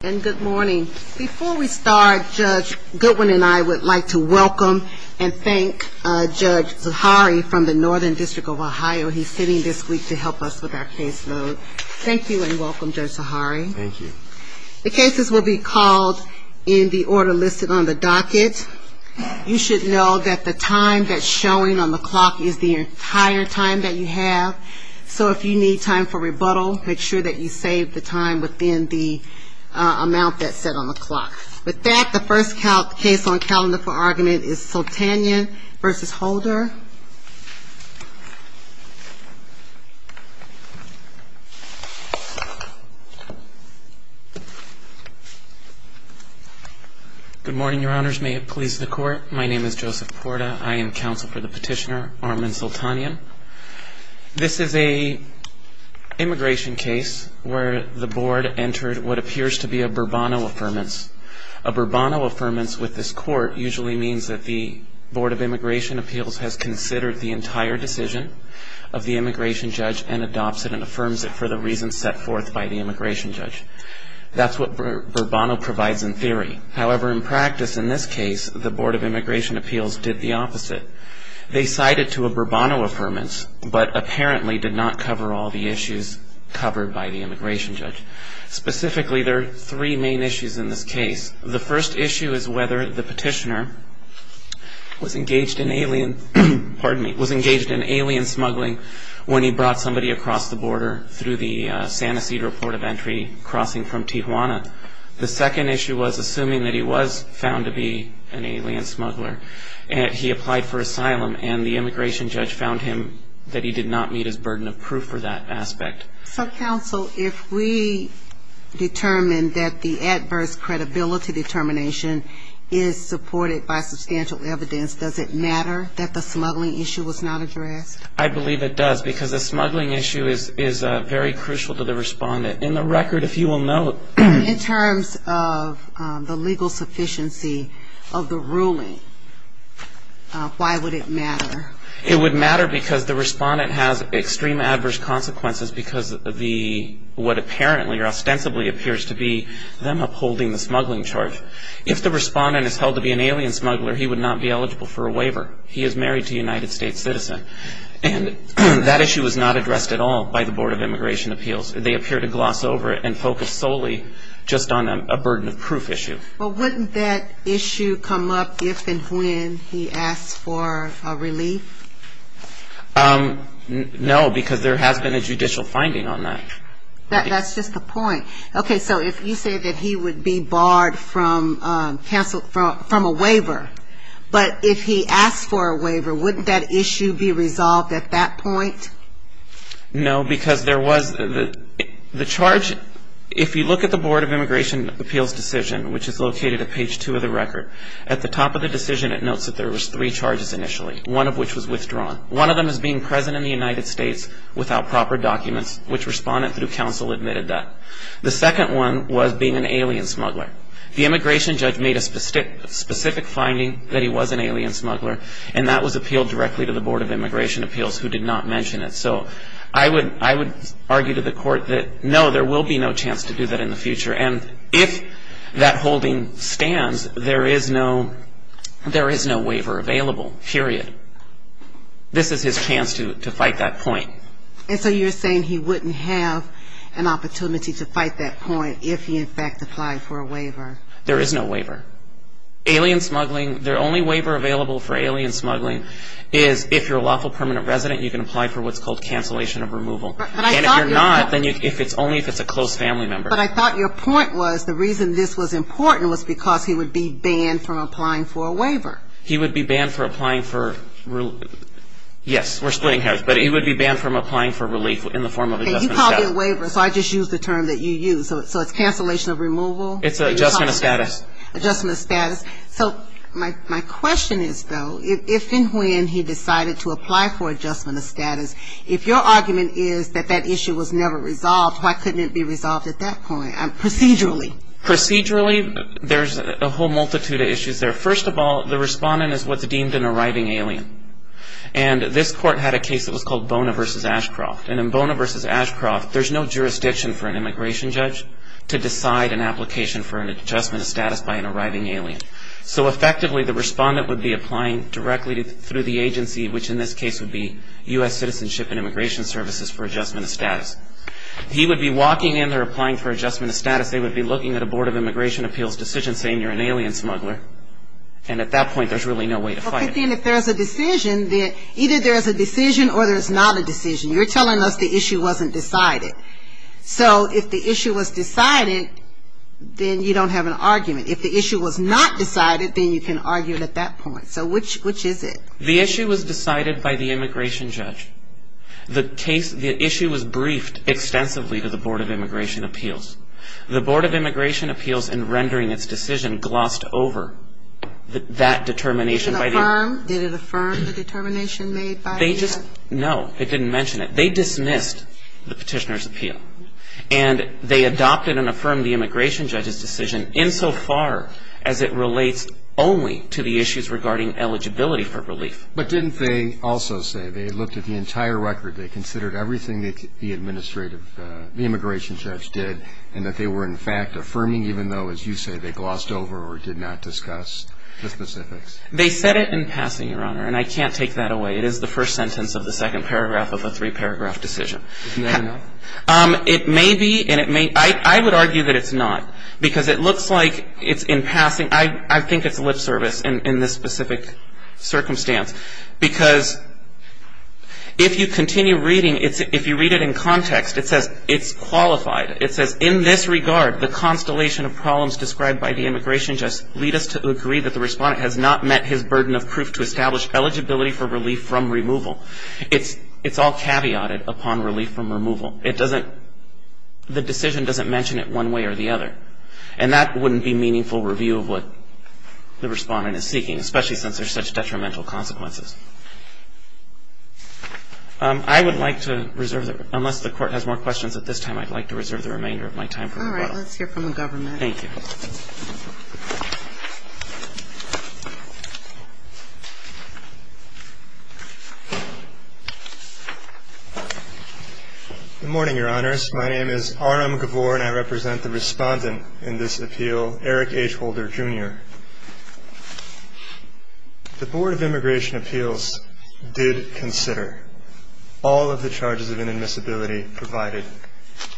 Good morning. Before we start, Judge Goodwin and I would like to welcome and thank Judge Zahari from the Northern District of Ohio. He's sitting this week to help us with our caseload. Thank you and welcome, Judge Zahari. Thank you. The cases will be called in the order listed on the docket. You should know that the time that's showing on the clock is the entire time that you have. So if you need time for rebuttal, make sure that you save the time within the amount that's set on the clock. With that, the first case on calendar for argument is Sultanyan v. Holder. Good morning, Your Honors. May it please the Court, my name is Joseph Porta. I am counsel for the petitioner Armin Sultanyan. This is a immigration case where the Board entered what appears to be a Bourbonno Affirmance. A Bourbonno Affirmance with this Court usually means that the Board of Immigration Appeals has considered the entire decision of the immigration judge and adopts it and affirms it for the reasons set forth by the immigration judge. That's what Bourbonno provides in theory. However, in practice, in this case, the Board of Immigration Appeals did the opposite. They cited to a Bourbonno Affirmance but apparently did not cover all the issues covered by the immigration judge. Specifically, there are three main issues in this case. The first issue is whether the petitioner was engaged in alien smuggling when he brought somebody across the border through the Santa Cedar Port of Entry crossing from Tijuana. The second issue was assuming that he was found to be an alien smuggler. He applied for asylum and the immigration judge found him that he did not meet his burden of proof for that aspect. So, counsel, if we determine that the adverse credibility determination is supported by substantial evidence, does it matter that the smuggling issue was not addressed? I believe it does because the smuggling issue is very crucial to the respondent. In the record, if you will note In terms of the legal sufficiency of the ruling, why would it matter? It would matter because the respondent has extreme adverse consequences because of what apparently or ostensibly appears to be them upholding the smuggling charge. If the respondent is held to be an alien smuggler, he would not be eligible for a waiver. He is married to a United States citizen. And that issue was not addressed at all by the Board of Immigration Appeals. They appear to gloss over it and focus solely just on a burden of proof issue. But wouldn't that issue come up if and when he asks for a relief? No, because there has been a judicial finding on that. That's just the point. Okay, so if you say that he would be barred from a waiver, but if he asks for a waiver, wouldn't that issue be resolved at that point? No, because there was the charge. If you look at the Board of Immigration Appeals decision, which is located at page two of the record, at the top of the decision it notes that there was three charges initially, one of which was withdrawn. One of them is being present in the United States without proper documents, which respondent through counsel admitted that. The second one was being an alien smuggler. The immigration judge made a specific finding that he was an alien smuggler, and that was appealed directly to the Board of Immigration Appeals, who did not mention it. So I would argue to the court that, no, there will be no chance to do that in the future. And if that holding stands, there is no waiver available, period. This is his chance to fight that point. And so you're saying he wouldn't have an opportunity to fight that point if he, in fact, applied for a waiver. There is no waiver. Alien smuggling, the only waiver available for alien smuggling is if you're a lawful permanent resident, you can apply for what's called cancellation of removal. But I thought your point But if you're not, then only if it's a close family member. But I thought your point was the reason this was important was because he would be banned from applying for a waiver. He would be banned from applying for, yes, we're splitting hairs, but he would be banned from applying for relief in the form of adjustment of status. You called it a waiver, so I just used the term that you used. So it's cancellation of removal? It's adjustment of status. Adjustment of status. So my question is, though, if and when he decided to apply for adjustment of status, if your argument is that that issue was never resolved, why couldn't it be resolved at that point, procedurally? Procedurally, there's a whole multitude of issues there. First of all, the respondent is what's deemed an arriving alien. And this court had a case that was called Bona v. Ashcroft. And in Bona v. Ashcroft, there's no jurisdiction for an immigration judge to decide an application for an adjustment of status by an arriving alien. So effectively, the respondent would be applying directly through the agency, which in this case would be U.S. Citizenship and Immigration Services for adjustment of status. He would be walking in, they're applying for adjustment of status, they would be looking at a Board of Immigration Appeals decision saying you're an alien smuggler. And at that point, there's really no way to fight it. But then if there's a decision, either there's a decision or there's not a decision. You're telling us the issue wasn't decided. So if the issue was decided, then you don't have an argument. If the issue was not decided, then you can argue it at that point. So which is it? The issue was decided by the immigration judge. The issue was briefed extensively to the Board of Immigration Appeals. The Board of Immigration Appeals, in rendering its decision, glossed over that determination. Did it affirm the determination made by the judge? No, it didn't mention it. They dismissed the petitioner's appeal. And they adopted and affirmed the immigration judge's decision insofar as it relates only to the issues regarding eligibility for relief. But didn't they also say they looked at the entire record, they considered everything the administrative, the immigration judge did, and that they were, in fact, affirming even though, as you say, they glossed over or did not discuss the specifics? They said it in passing, Your Honor, and I can't take that away. It is the first sentence of the second paragraph of a three-paragraph decision. It may be, and it may, I would argue that it's not. Because it looks like it's in passing. I think it's lip service in this specific circumstance. Because if you continue reading, if you read it in context, it says it's qualified. It says, in this regard, the constellation of problems described by the immigration judge lead us to agree that the respondent has not met his burden of proof to establish eligibility for relief from removal. It's all caveated upon relief from removal. It doesn't, the decision doesn't mention it one way or the other. And that wouldn't be meaningful review of what the respondent is seeking, especially since there's such detrimental consequences. I would like to reserve, unless the Court has more questions at this time, I'd like to reserve the remainder of my time for rebuttal. All right. Let's hear from the government. Thank you. Good morning, Your Honors. My name is Aram Gavore, and I represent the respondent in this appeal, Eric H. Holder, Jr. The Board of Immigration Appeals did consider all of the charges of inadmissibility provided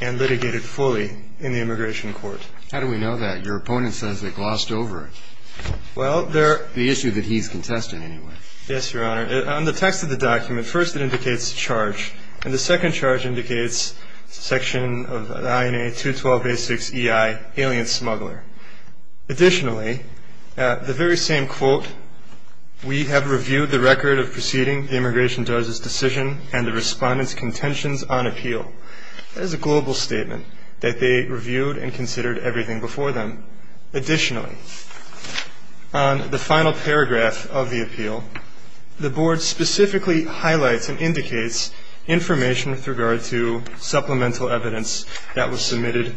and litigated fully in the immigration court. How do we know that? Your opponent says they glossed over it. Well, they're The issue that he's contesting, anyway. Yes, Your Honor. On the text of the document, first it indicates charge, and the second charge indicates section of INA 212A6EI, alien smuggler. Additionally, the very same quote, we have reviewed the record of proceeding the immigration judge's decision and the respondent's contentions on appeal. That is a global statement, that they reviewed and considered everything before them. Additionally, on the final paragraph of the appeal, the board specifically highlights and indicates information with regard to supplemental evidence that was submitted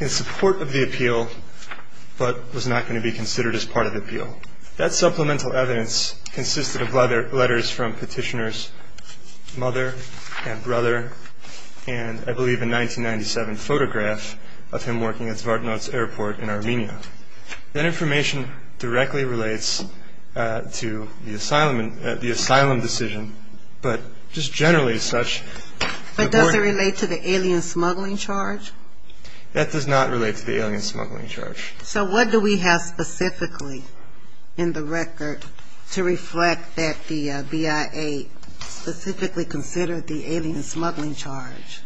in support of the appeal but was not going to be considered as part of the appeal. That supplemental evidence consisted of letters from petitioner's mother and brother and I believe a 1997 photograph of him working at Zvart'nots airport in Armenia. That information directly relates to the asylum decision, but just generally as such the board But does it relate to the alien smuggling charge? That does not relate to the alien smuggling charge. So what do we have specifically in the record to reflect that the BIA specifically to consider the alien smuggling charge?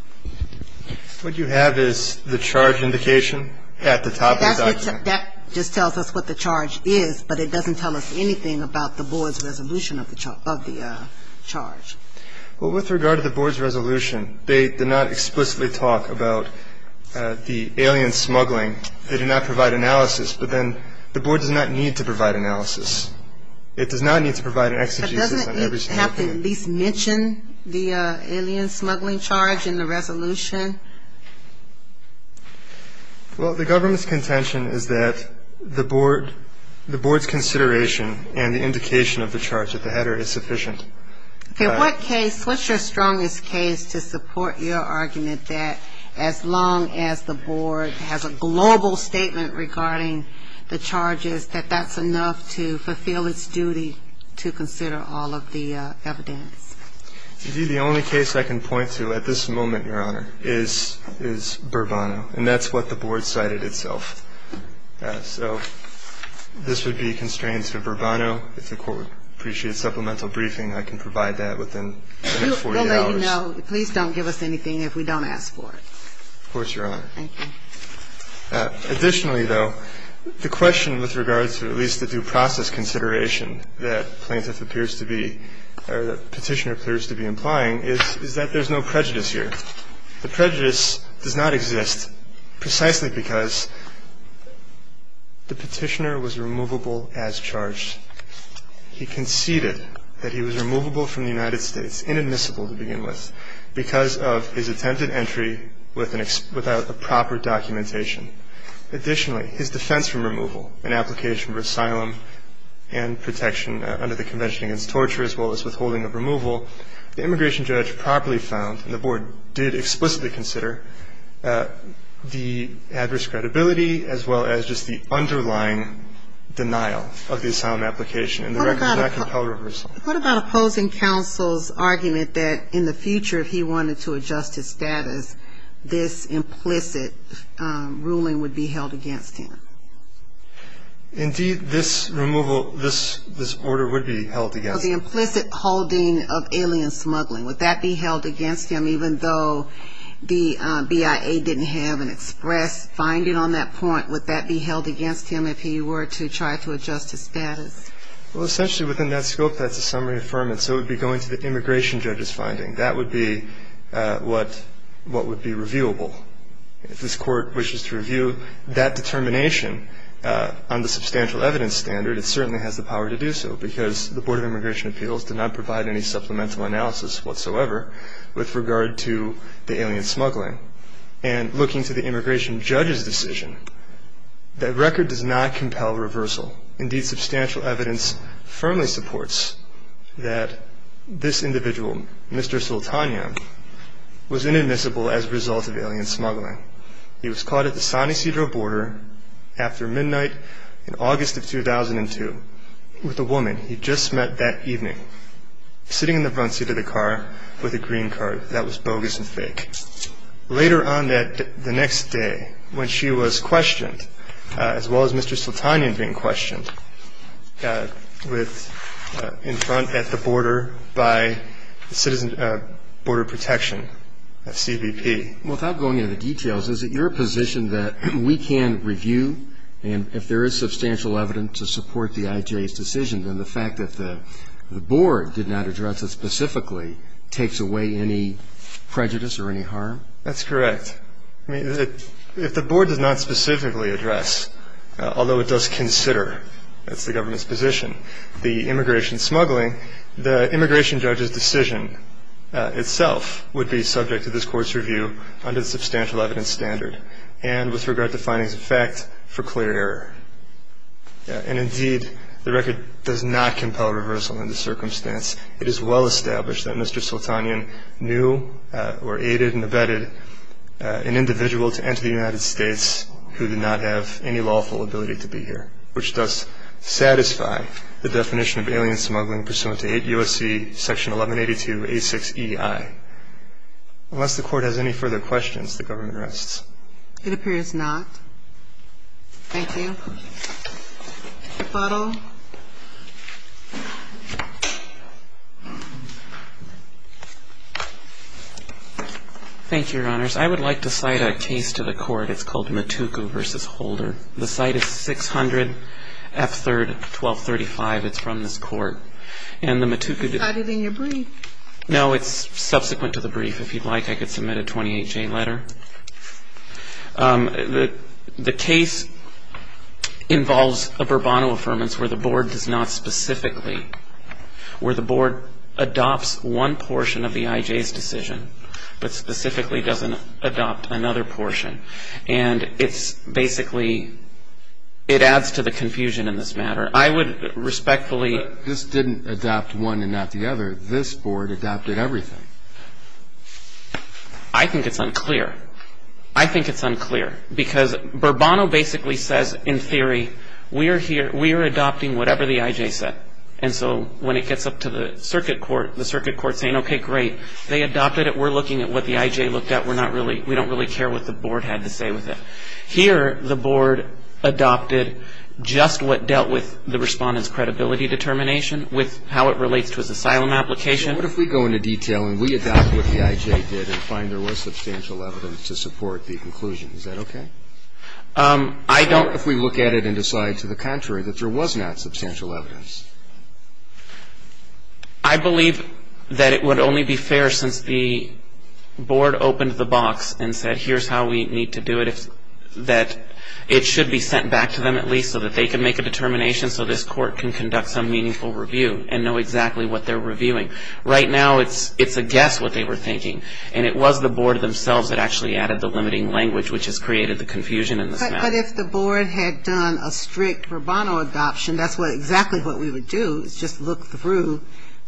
What you have is the charge indication at the top of the document. That just tells us what the charge is, but it doesn't tell us anything about the board's resolution of the charge. Well, with regard to the board's resolution, they did not explicitly talk about the alien smuggling. They did not provide analysis, but then the board does not need to provide analysis. It does not need to provide an exegesis on every single thing. Does it have to at least mention the alien smuggling charge in the resolution? Well, the government's contention is that the board's consideration and the indication of the charge at the header is sufficient. In what case, what's your strongest case to support your argument that as long as the board has a global statement regarding the charges, that that's enough to fulfill its duty to consider all of the evidence? Indeed, the only case I can point to at this moment, Your Honor, is Burbano, and that's what the board cited itself. So this would be a constraint to Burbano. If the court appreciates supplemental briefing, I can provide that within the next 40 hours. We'll let you know. Please don't give us anything if we don't ask for it. Of course, Your Honor. Thank you. Additionally, though, the question with regard to at least the due process consideration that plaintiff appears to be or that Petitioner appears to be implying is that there's no prejudice here. The prejudice does not exist precisely because the Petitioner was removable as charged. He conceded that he was removable from the United States, inadmissible to begin with, because of his attempted entry without a proper documentation. Additionally, his defense from removal, an application for asylum and protection under the Convention Against Torture, as well as withholding of removal, the immigration judge properly found, and the board did explicitly consider, the adverse credibility, as well as just the underlying denial of the asylum application, and the record does not compel reversal. What about opposing counsel's argument that in the future, if he wanted to adjust his status, this implicit ruling would be held against him? Indeed, this removal, this order would be held against him. The implicit holding of alien smuggling, would that be held against him, even though the BIA didn't have an express finding on that point? Would that be held against him if he were to try to adjust his status? Well, essentially within that scope, that's a summary affirmance. It would be going to the immigration judge's finding. That would be what would be reviewable. If this Court wishes to review that determination on the substantial evidence standard, it certainly has the power to do so, because the Board of Immigration Appeals did not provide any supplemental analysis whatsoever with regard to the alien smuggling. And looking to the immigration judge's decision, the record does not compel reversal. Indeed, substantial evidence firmly supports that this individual, Mr. Sultanian, was inadmissible as a result of alien smuggling. He was caught at the San Ysidro border after midnight in August of 2002 with a woman he'd just met that evening, sitting in the front seat of the car with a green card that was bogus and fake. Later on the next day, when she was questioned, as well as Mr. Sultanian being questioned in front at the border by the Border Protection, CBP. Without going into the details, is it your position that we can review, and if there is substantial evidence to support the IJ's decision, then the fact that the Board did not address it specifically takes away any prejudice or any harm? That's correct. I mean, if the Board does not specifically address, although it does consider, that's the government's position, the immigration smuggling, the immigration judge's decision itself would be subject to this Court's review under the substantial evidence standard and with regard to findings of fact for clear error. And indeed, the record does not compel reversal in this circumstance. It is well established that Mr. Sultanian knew or aided and abetted an individual to enter the United States who did not have any lawful ability to be here, which does satisfy the definition of alien smuggling pursuant to 8 U.S.C. section 1182.86EI. Unless the Court has any further questions, the government rests. It appears not. Thank you. Mr. Butler. Thank you, Your Honors. I would like to cite a case to the Court. It's called Matuku v. Holder. The cite is 600 F. 3rd, 1235. It's from this Court. And the Matuku- It's cited in your brief. No, it's subsequent to the brief. If you'd like, I could submit a 28-J letter. The case involves a Bourbonno Affirmance where the Board does not specifically, where the Board adopts one portion of the I.J.'s decision, but specifically doesn't adopt another portion. And it's basically, it adds to the confusion in this matter. I would respectfully- This didn't adopt one and not the other. This Board adopted everything. I think it's unclear. I think it's unclear. Because Bourbonno basically says, in theory, we are adopting whatever the I.J. said. And so when it gets up to the Circuit Court, the Circuit Court is saying, okay, great. They adopted it. We're looking at what the I.J. looked at. We don't really care what the Board had to say with it. Here, the Board adopted just what dealt with the Respondent's credibility determination with how it relates to his asylum application. What if we go into detail and we adopt what the I.J. did and find there was substantial evidence to support the conclusion? Is that okay? I don't- What if we look at it and decide to the contrary, that there was not substantial evidence? I believe that it would only be fair since the Board opened the box and said here's how we need to do it, that it should be sent back to them at least so that they can make a determination so this Court can conduct some meaningful review and know exactly what they're reviewing. Right now, it's a guess what they were thinking. And it was the Board themselves that actually added the limiting language, which has created the confusion in this matter. But if the Board had done a strict Rubano adoption, that's exactly what we would do is just look through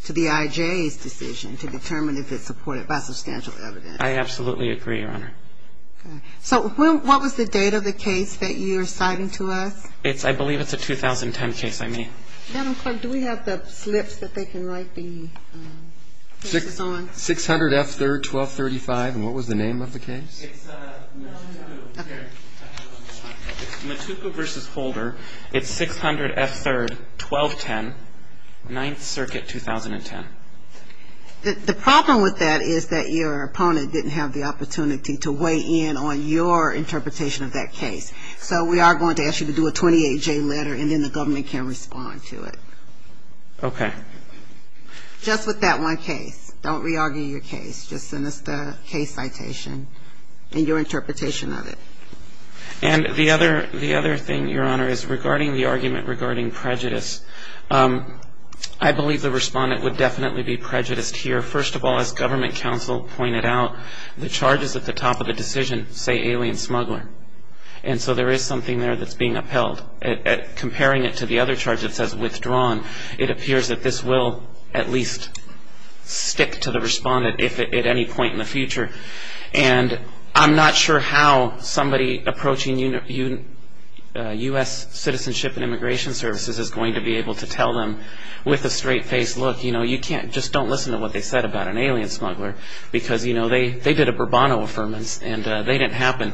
to the I.J.'s decision to determine if it's supported by substantial evidence. I absolutely agree, Your Honor. Okay. So what was the date of the case that you're citing to us? I believe it's a 2010 case I made. Madam Clerk, do we have the slips that they can write the cases on? 600 F. 3rd, 1235. And what was the name of the case? It's Matuku v. Holder. It's 600 F. 3rd, 1210, 9th Circuit, 2010. The problem with that is that your opponent didn't have the opportunity to weigh in on your interpretation of that case. So we are going to ask you to do a 28-J letter, and then the government can respond to it. Okay. Just with that one case. Don't re-argue your case. Just send us the case citation and your interpretation of it. And the other thing, Your Honor, is regarding the argument regarding prejudice, I believe the respondent would definitely be prejudiced here. First of all, as government counsel pointed out, the charges at the top of the decision say alien smuggling. And so there is something there that's being upheld. Comparing it to the other charge that says withdrawn, it appears that this will at least stick to the respondent at any point in the future. And I'm not sure how somebody approaching U.S. Citizenship and Immigration Services is going to be able to tell them with a straight-faced look, you know, just don't listen to what they said about an alien smuggler because, you know, they did a Burbano Affirmance, and they didn't happen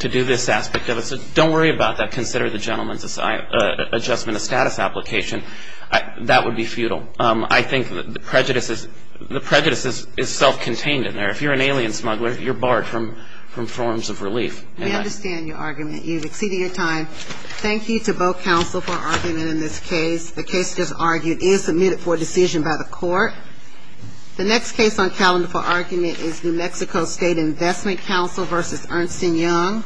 to do this aspect of it. So don't worry about that. Consider the gentleman's adjustment of status application. That would be futile. I think the prejudice is self-contained in there. If you're an alien smuggler, you're barred from forms of relief. We understand your argument. You've exceeded your time. Thank you to both counsel for arguing in this case. The case that's argued is submitted for decision by the court. The next case on calendar for argument is New Mexico State Investment Council v. Ernst & Young.